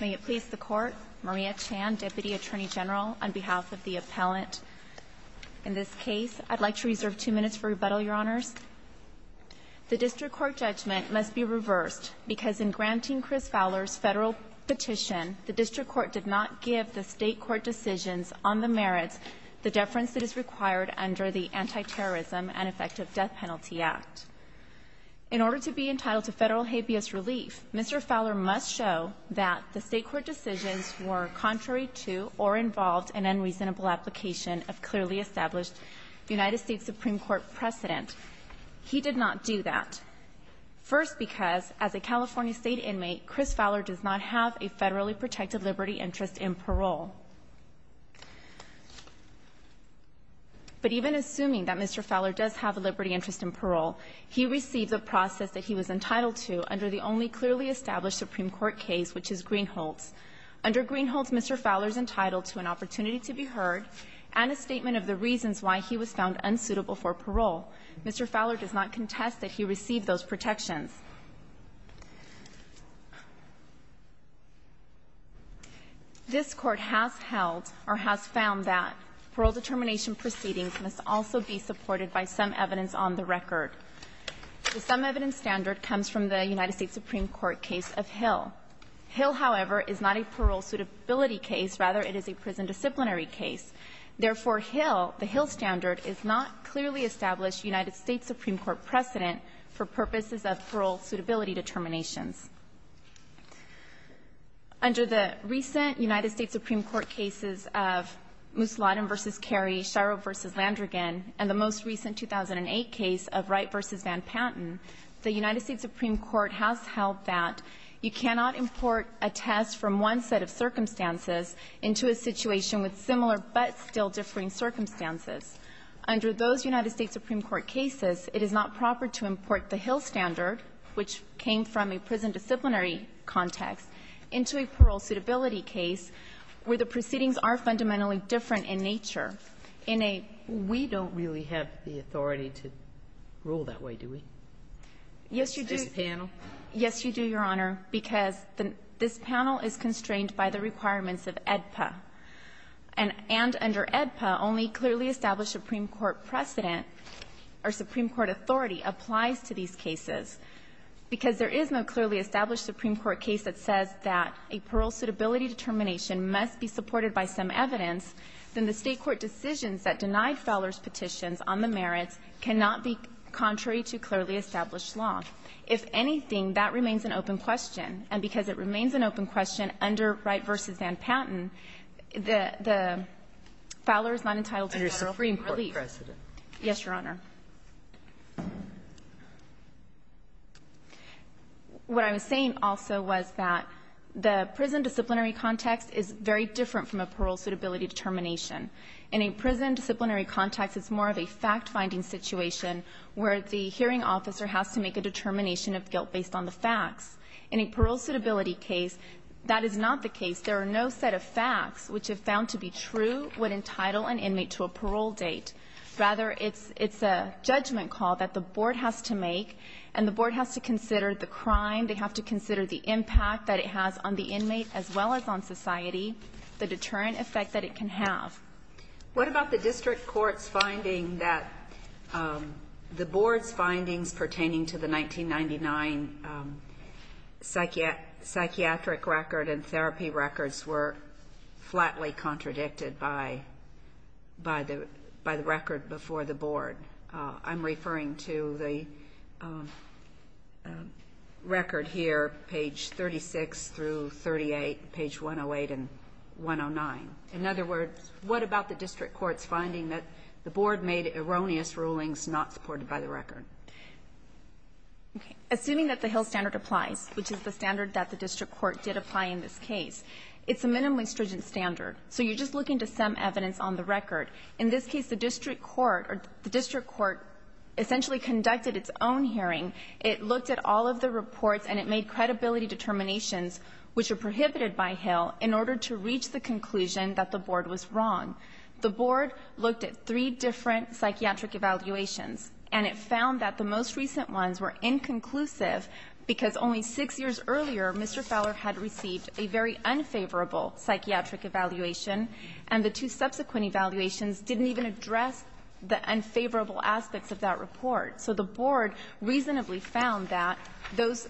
May it please the Court, Maria Chan, Deputy Attorney General, on behalf of the appellant. In this case, I'd like to reserve two minutes for rebuttal, Your Honors. The District Court judgment must be reversed because in granting Chris Fowler's federal petition, the District Court did not give the state court decisions on the merits the deference that is required under the Antiterrorism and Effective Death Penalty Act. In order to be entitled to that, the state court decisions were contrary to or involved in unreasonable application of clearly established United States Supreme Court precedent. He did not do that. First, because as a California state inmate, Chris Fowler does not have a federally protected liberty interest in parole. But even assuming that Mr. Fowler does have a liberty interest in parole, he received a process that he was entitled to under the only clearly established Supreme Court case, which is Greenholtz. Under Greenholtz, Mr. Fowler is entitled to an opportunity to be heard and a statement of the reasons why he was found unsuitable for parole. Mr. Fowler does not contest that he received those protections. This Court has held or has found that parole determination proceedings must also be supported by some evidence on the record. The some evidence standard comes from the United States Supreme Court case of Hill. Hill, however, is not a parole suitability case. Rather, it is a prison disciplinary case. Therefore, Hill, the Hill standard, is not clearly established United States Supreme Court precedent for purposes of parole suitability determinations. Under the recent United States Supreme Court cases of Musalladan v. Carey, Shiro v. Landrigan, and the most recent 2008 case of Wright v. Van Panten, the United States Supreme Court has held that the United States Supreme Court has held that you cannot import a test from one set of circumstances into a situation with similar but still differing circumstances. Under those United States Supreme Court cases, it is not proper to import the Hill standard, which came from a prison disciplinary context, into a parole suitability case where the proceedings are fundamentally different in nature. In a ---- Kagan. We don't really have the authority to rule that way, do we? Yes, you do. Does it handle? Yes, you do, Your Honor, because the ---- this panel is constrained by the requirements of AEDPA. And under AEDPA, only clearly established Supreme Court precedent or Supreme Court authority applies to these cases. Because there is no clearly established Supreme Court case that says that a parole suitability determination must be supported by some evidence, then the State court decisions that denied Fowler's petitions on the merits cannot be contrary to clearly established law. If anything, that remains an open question. And because it remains an open question under Wright v. Van Patten, the ---- Fowler is not entitled to federal relief. Under Supreme Court precedent. Yes, Your Honor. What I was saying also was that the prison disciplinary context is very different from a parole suitability determination. In a prison disciplinary context, it's more of a fact-finding situation where the hearing officer has to make a determination of guilt based on the facts. In a parole suitability case, that is not the case. There are no set of facts which are found to be true would entitle an inmate to a parole date. Rather, it's a judgment call that the Board has to make, and the Board has to consider the crime. They have to consider the impact that it has on the inmate as well as on society, the deterrent effect that it can have. What about the District Court's finding that the Board's findings pertaining to the 1999 psychiatric record and therapy records were flatly contradicted by the record before the Board? I'm referring to the record here, page 36 through 38, page 108, and page 109. In other words, what about the District Court's finding that the Board made erroneous rulings not supported by the record? Okay. Assuming that the Hill standard applies, which is the standard that the District Court did apply in this case, it's a minimally stringent standard. So you're just looking to some evidence on the record. In this case, the District Court essentially conducted its own hearing. It looked at all of the reports, and it made credibility determinations which are reasonable enough to reach the conclusion that the Board was wrong. The Board looked at three different psychiatric evaluations, and it found that the most recent ones were inconclusive because only six years earlier, Mr. Fowler had received a very unfavorable psychiatric evaluation, and the two subsequent evaluations didn't even address the unfavorable aspects of that report. So the Board reasonably found that those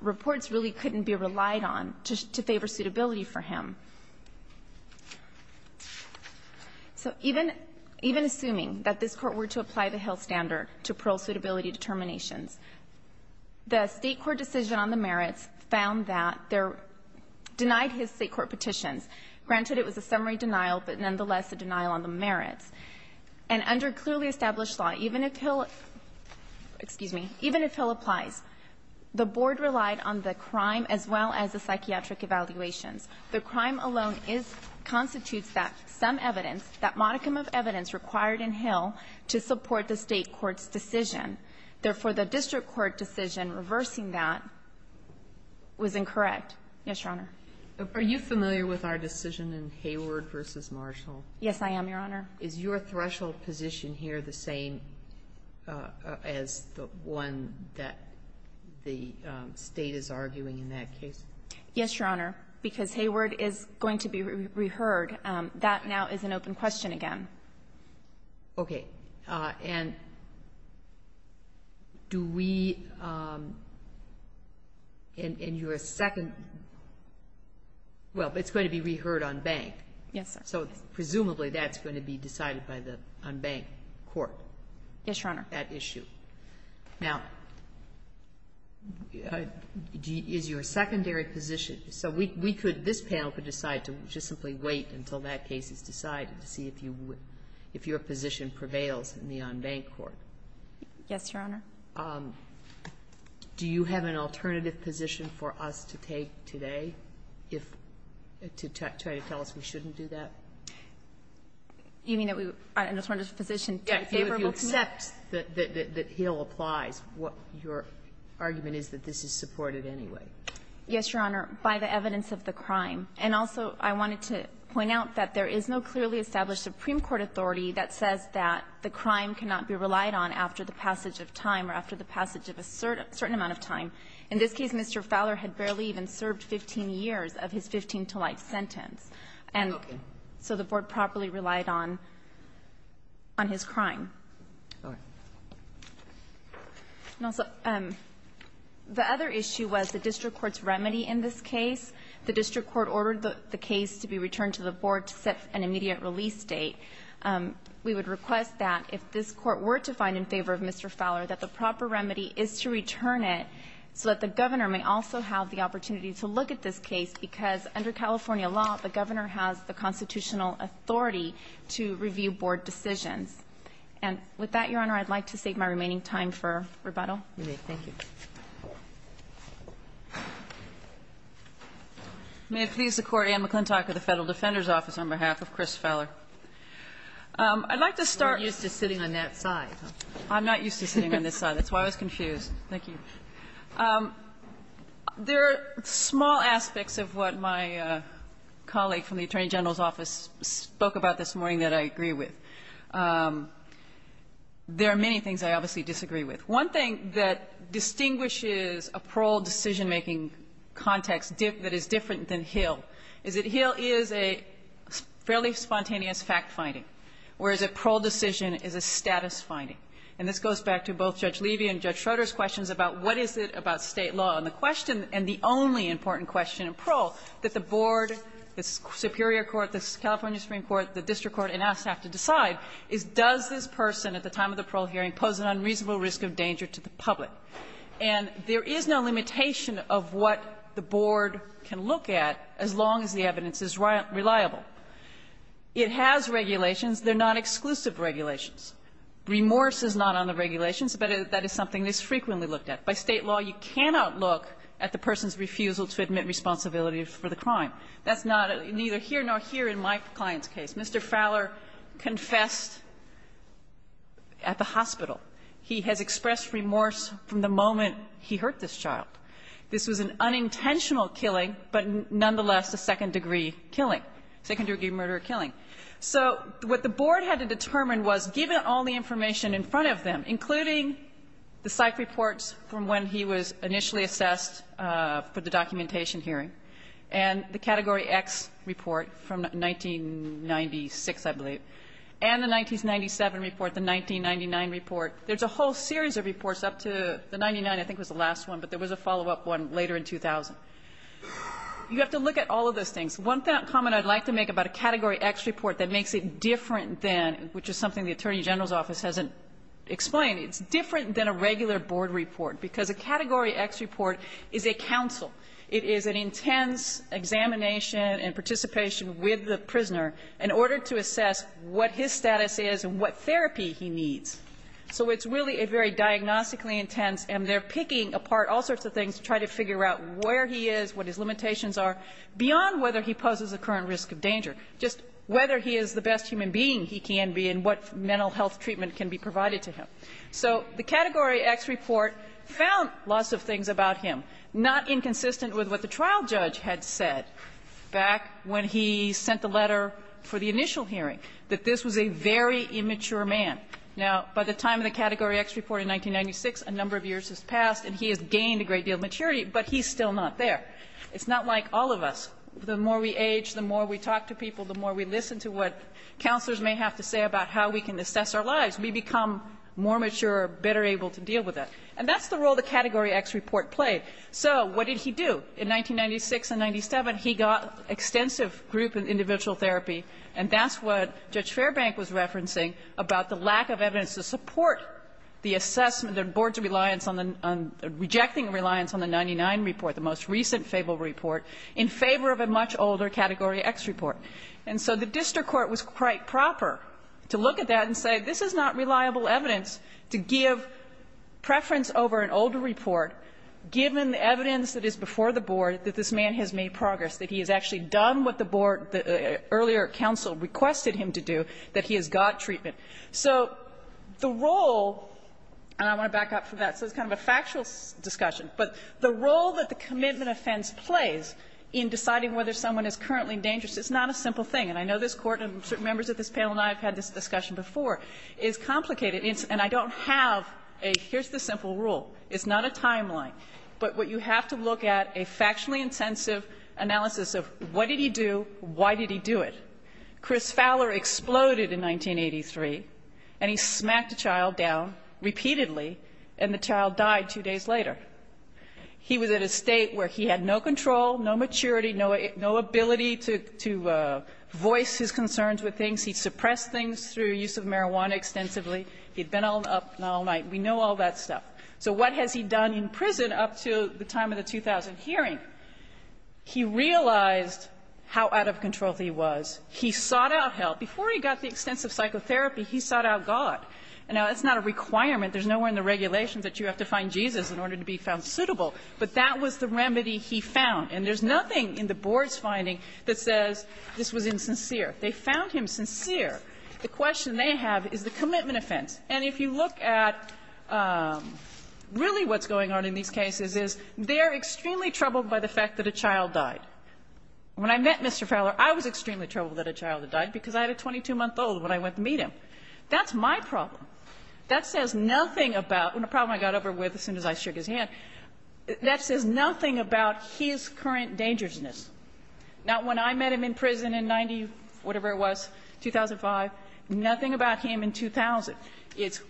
reports really couldn't be relied on to favor suitability for him. So even assuming that this Court were to apply the Hill standard to parole suitability determinations, the State court decision on the merits found that there were denied his State court petitions. Granted, it was a summary denial, but nonetheless a denial on the merits. And under clearly established law, even if Hill — excuse me — even if Hill applies, the Board relied on the crime as well as the psychiatric evaluations. The crime alone is — constitutes that some evidence, that modicum of evidence required in Hill to support the State court's decision. Therefore, the District Court decision reversing that was incorrect. Yes, Your Honor. Are you familiar with our decision in Hayward v. Marshall? Yes, I am, Your Honor. Is your threshold position here the same as the one that the State is arguing in that case? Yes, Your Honor, because Hayward is going to be reheard. That now is an open question again. Okay. And do we — in your second — well, it's going to be reheard on bank. Yes, sir. So presumably that's going to be decided by the unbanked court. Yes, Your Honor. That issue. Now, is your secondary position — so we could — this panel could decide to just simply wait until that case is decided to see if you would — if your position prevails in the unbanked court. Yes, Your Honor. Do you have an alternative position for us to take today if — to try to tell us we have an alternative position? You mean that we — an alternative position to a favorable — If you accept that Hill applies, what your argument is that this is supported anyway. Yes, Your Honor, by the evidence of the crime. And also, I wanted to point out that there is no clearly established Supreme Court authority that says that the crime cannot be relied on after the passage of time or after the passage of a certain amount of time. In this case, Mr. Fowler had barely even served 15 years of his 15-to-life sentence. And so the board properly relied on — on his crime. All right. And also, the other issue was the district court's remedy in this case. The district court ordered the case to be returned to the board to set an immediate release date. We would request that if this court were to find in favor of Mr. Fowler, that the proper remedy is to return it so that the governor may also have the opportunity to look at this case, because under California law, the governor has the constitutional authority to review board decisions. And with that, Your Honor, I'd like to save my remaining time for rebuttal. Thank you. May it please the Court, Anne McClintock of the Federal Defender's Office, on behalf of Chris Fowler. I'd like to start — You're used to sitting on that side. I'm not used to sitting on this side. That's why I was confused. Thank you. There are small aspects of what my colleague from the Attorney General's Office spoke about this morning that I agree with. There are many things I obviously disagree with. One thing that distinguishes a parole decision-making context that is different than Hill is that Hill is a fairly spontaneous fact-finding, whereas a parole decision is a status-finding. And this goes back to both Judge Levy and Judge Schroeder's questions about what is it about State law and the question, and the only important question in parole that the board, the superior court, the California Supreme Court, the district court, and us have to decide is does this person at the time of the parole hearing pose an unreasonable risk of danger to the public. And there is no limitation of what the board can look at as long as the evidence is reliable. It has regulations. They're not exclusive regulations. Remorse is not on the regulations, but that is something that is frequently looked at. By State law, you cannot look at the person's refusal to admit responsibility for the crime. That's not neither here nor here in my client's case. Mr. Fowler confessed at the hospital. He has expressed remorse from the moment he hurt this child. This was an unintentional killing, but nonetheless a second-degree killing, second-degree murder or killing. So what the board had to determine was given all the information in front of them, including the psych reports from when he was initially assessed for the documentation hearing, and the Category X report from 1996, I believe, and the 1997 report, the 1999 report, there's a whole series of reports up to the 99, I think was the last one, but there was a follow-up one later in 2000. You have to look at all of those things. One comment I'd like to make about a Category X report that makes it different than, which is something the Attorney General's Office hasn't explained, it's different than a regular board report, because a Category X report is a counsel. It is an intense examination and participation with the prisoner in order to assess what his status is and what therapy he needs. So it's really a very diagnostically intense, and they're picking apart all sorts of things to try to figure out where he is, what his limitations are, beyond whether he poses a current risk of danger, just whether he is the best human being he can be and what mental health treatment can be provided to him. So the Category X report found lots of things about him, not inconsistent with what the trial judge had said back when he sent the letter for the initial hearing, that this was a very immature man. Now, by the time of the Category X report in 1996, a number of years has passed and he has gained a great deal of maturity, but he's still not there. It's not like all of us. The more we age, the more we talk to people, the more we listen to what counselors may have to say about how we can assess our lives. We become more mature, better able to deal with it. And that's the role the Category X report played. So what did he do? In 1996 and 1997, he got extensive group and individual therapy, and that's what Judge Fairbank was referencing about the lack of evidence to support the assessment of the board's reliance on the 1999 report, the most recent FABLE report, in favor of a much older Category X report. And so the district court was quite proper to look at that and say this is not reliable evidence to give preference over an older report, given the evidence that is before the board that this man has made progress, that he has actually done what the board earlier counsel requested him to do, that he has got treatment. So the role, and I want to back up for that, so it's kind of a factual discussion, but the role that the commitment offense plays in deciding whether someone is currently in danger, it's not a simple thing. And I know this Court and certain members of this panel and I have had this discussion before, it's complicated and I don't have a here's the simple rule. It's not a timeline, but what you have to look at, a factually intensive analysis of what did he do, why did he do it. Chris Fowler exploded in 1983 and he smacked a child down repeatedly and the child died two days later. He was at a state where he had no control, no maturity, no ability to voice his concerns with things. He suppressed things through use of marijuana extensively. He had been up all night. We know all that stuff. So what has he done in prison up to the time of the 2000 hearing? He realized how out of control he was. He sought out help. Before he got the extensive psychotherapy, he sought out God. Now, that's not a requirement. There's nowhere in the regulations that you have to find Jesus in order to be found suitable. But that was the remedy he found. And there's nothing in the board's finding that says this was insincere. They found him sincere. The question they have is the commitment offense. And if you look at really what's going on in these cases is they are extremely troubled by the fact that a child died. When I met Mr. Fowler, I was extremely troubled that a child had died because I had a 22-month-old when I went to meet him. That's my problem. That says nothing about the problem I got over with as soon as I shook his hand. That says nothing about his current dangerousness. Now, when I met him in prison in 90-whatever-it-was, 2005, nothing about him in 2000. It's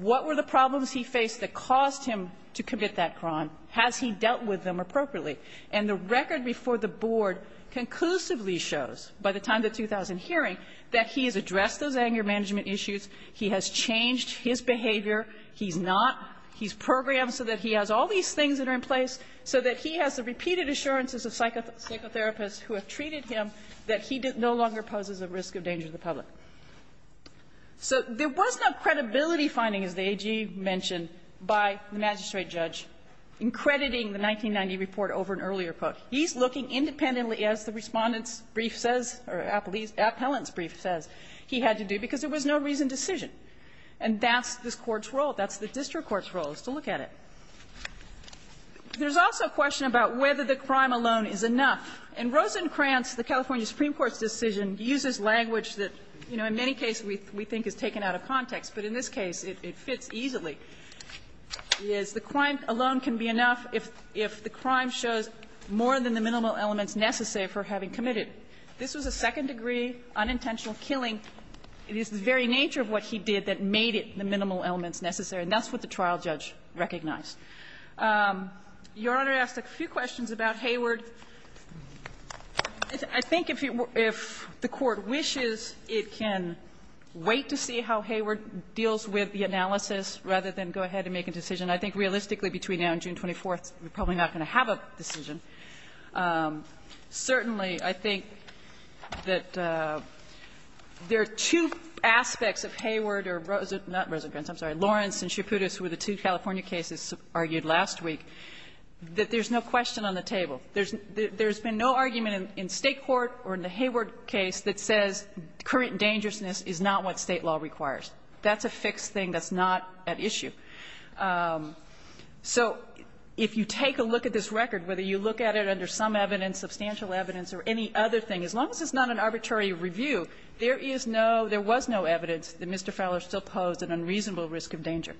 what were the problems he faced that caused him to commit that crime? Has he dealt with them appropriately? And the record before the board conclusively shows, by the time of the 2000 hearing, that he has addressed those anger management issues, he has changed his behavior, he's not, he's programmed so that he has all these things that are in place, so that he has the repeated assurances of psychotherapists who have treated him that he no longer poses a risk of danger to the public. So there was no credibility finding, as the AG mentioned, by the magistrate judge, in crediting the 1990 report over an earlier quote. He's looking independently, as the Respondent's brief says, or Appellant's brief says, he had to do, because there was no reasoned decision. And that's this Court's role. That's the district court's role, is to look at it. There's also a question about whether the crime alone is enough. In Rosencrantz, the California Supreme Court's decision uses language that, you know, in many cases we think is taken out of context, but in this case it fits easily. It is, the crime alone can be enough if the crime shows more than the minimal elements necessary for having committed. This was a second-degree unintentional killing. It is the very nature of what he did that made it the minimal elements necessary, and that's what the trial judge recognized. Your Honor asked a few questions about Hayward. I think if the Court wishes, it can wait to see how Hayward deals with the analysis rather than go ahead and make a decision. I think realistically between now and June 24th, we're probably not going to have a decision. Certainly, I think that there are two aspects of Hayward or Rosencrantz or not Rosencrantz, I'm sorry, Lawrence and Chiaputis, who were the two California cases argued last week, that there's no question on the table. There's been no argument in State court or in the Hayward case that says current dangerousness is not what State law requires. That's a fixed thing that's not at issue. So if you take a look at this record, whether you look at it under some evidence, substantial evidence, or any other thing, as long as it's not an arbitrary review, there is no – there was no evidence that Mr. Fowler still posed an unreasonable risk of danger.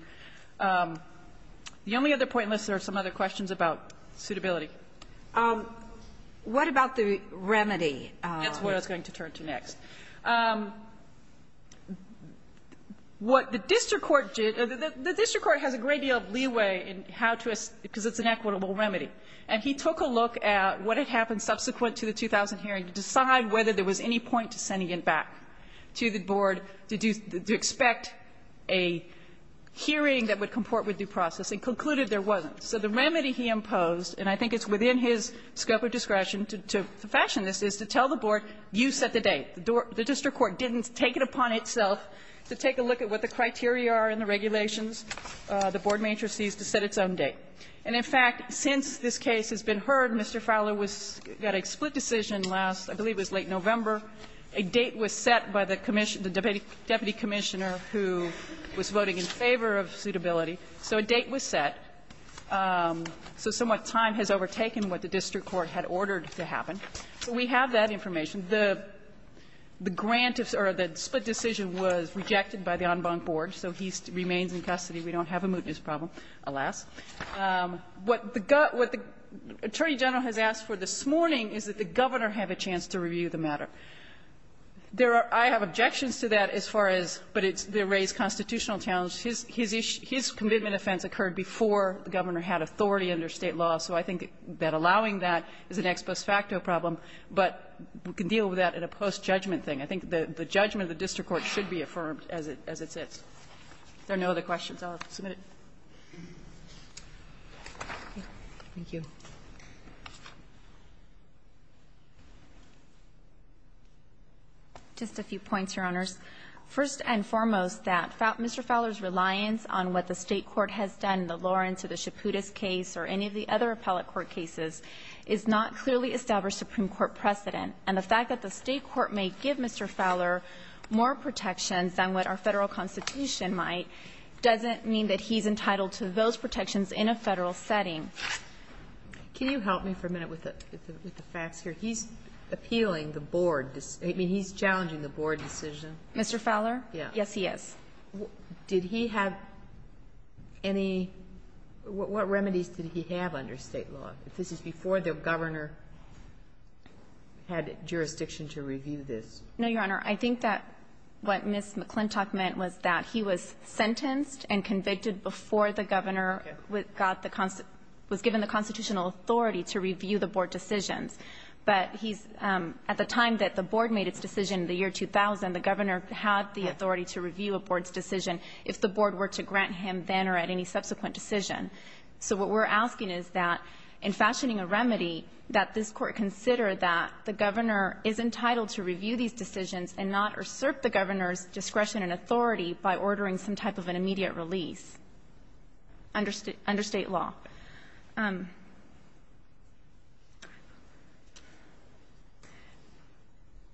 The only other point in this, there are some other questions about suitability. What about the remedy? That's what I was going to turn to next. What the district court did – the district court has a great deal of leeway in how to – because it's an equitable remedy. And he took a look at what had happened subsequent to the 2000 hearing to decide whether there was any point to sending it back to the board to do – to expect a hearing that would comport with due process and concluded there wasn't. So the remedy he imposed, and I think it's within his scope of discretion to fashion this, is to tell the board, you set the date. The district court didn't take it upon itself to take a look at what the criteria are in the regulations, the board matrices, to set its own date. And in fact, since this case has been heard, Mr. Fowler was – got a split decision last – I believe it was late November. A date was set by the deputy commissioner who was voting in favor of suitability. So a date was set. So somewhat time has overtaken what the district court had ordered to happen. We have that information. The grant of – or the split decision was rejected by the en banc board, so he remains in custody. We don't have a mootness problem, alas. What the – what the Attorney General has asked for this morning is that the Governor have a chance to review the matter. There are – I have objections to that as far as – but it's the raised constitutional challenge. His – his issue – his commitment offense occurred before the Governor had authority under State law, so I think that allowing that is an ex post facto problem. But we can deal with that in a post-judgment thing. I think the judgment of the district court should be affirmed as it – as it sits. If there are no other questions, I'll submit it. Thank you. Just a few points, Your Honors. First and foremost, that Mr. Fowler's reliance on what the State court has done in the Lawrence or the Chaputis case or any of the other appellate court cases is not a matter of the State court's decision. The State court has clearly established Supreme Court precedent, and the fact that the State court may give Mr. Fowler more protections than what our Federal Constitution might doesn't mean that he's entitled to those protections in a Federal setting. Can you help me for a minute with the – with the facts here? He's appealing the Board – I mean, he's challenging the Board decision. Mr. Fowler? Yeah. Yes, he is. Did he have any – what remedies did he have under State law? If this is before the Governor had jurisdiction to review this. No, Your Honor. I think that what Ms. McClintock meant was that he was sentenced and convicted before the Governor got the – was given the constitutional authority to review the Board decisions. But he's – at the time that the Board made its decision, the year 2000, the Governor had the authority to review a Board's decision if the Board were to grant him then or at any subsequent decision. So what we're asking is that, in fashioning a remedy, that this Court consider that the Governor is entitled to review these decisions and not assert the Governor's discretion and authority by ordering some type of an immediate release under State law.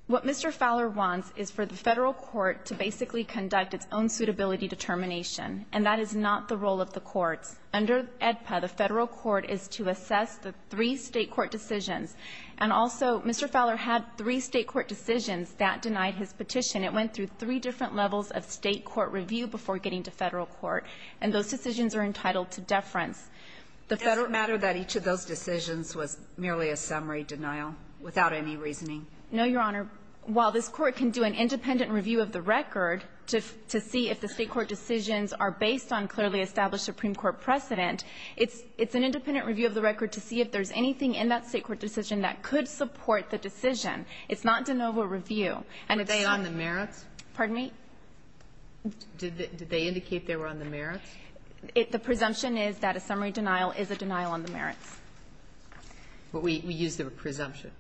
What Mr. Fowler wants is for the Federal Court to basically conduct its own suitability determination, and that is not the role of the courts. Under AEDPA, the Federal Court is to assess the three State court decisions. And also, Mr. Fowler had three State court decisions that denied his petition. It went through three different levels of State court review before getting to Federal reference. The Federal – It doesn't matter that each of those decisions was merely a summary denial without any reasoning? No, Your Honor. While this Court can do an independent review of the record to see if the State court decisions are based on clearly established Supreme Court precedent, it's – it's an independent review of the record to see if there's anything in that State court decision that could support the decision. It's not de novo review. And it's – Were they on the merits? Pardon me? Did they indicate they were on the merits? The presumption is that a summary denial is a denial on the merits. But we use the presumption.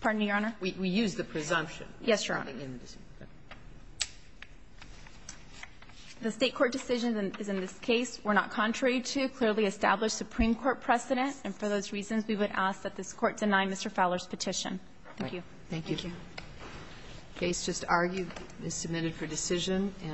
Pardon me, Your Honor? We use the presumption. Yes, Your Honor. The State court decision is in this case were not contrary to clearly established Supreme Court precedent, and for those reasons, we would ask that this Court deny Mr. Fowler's petition. Thank you. Thank you. The case just argued, is submitted for decision.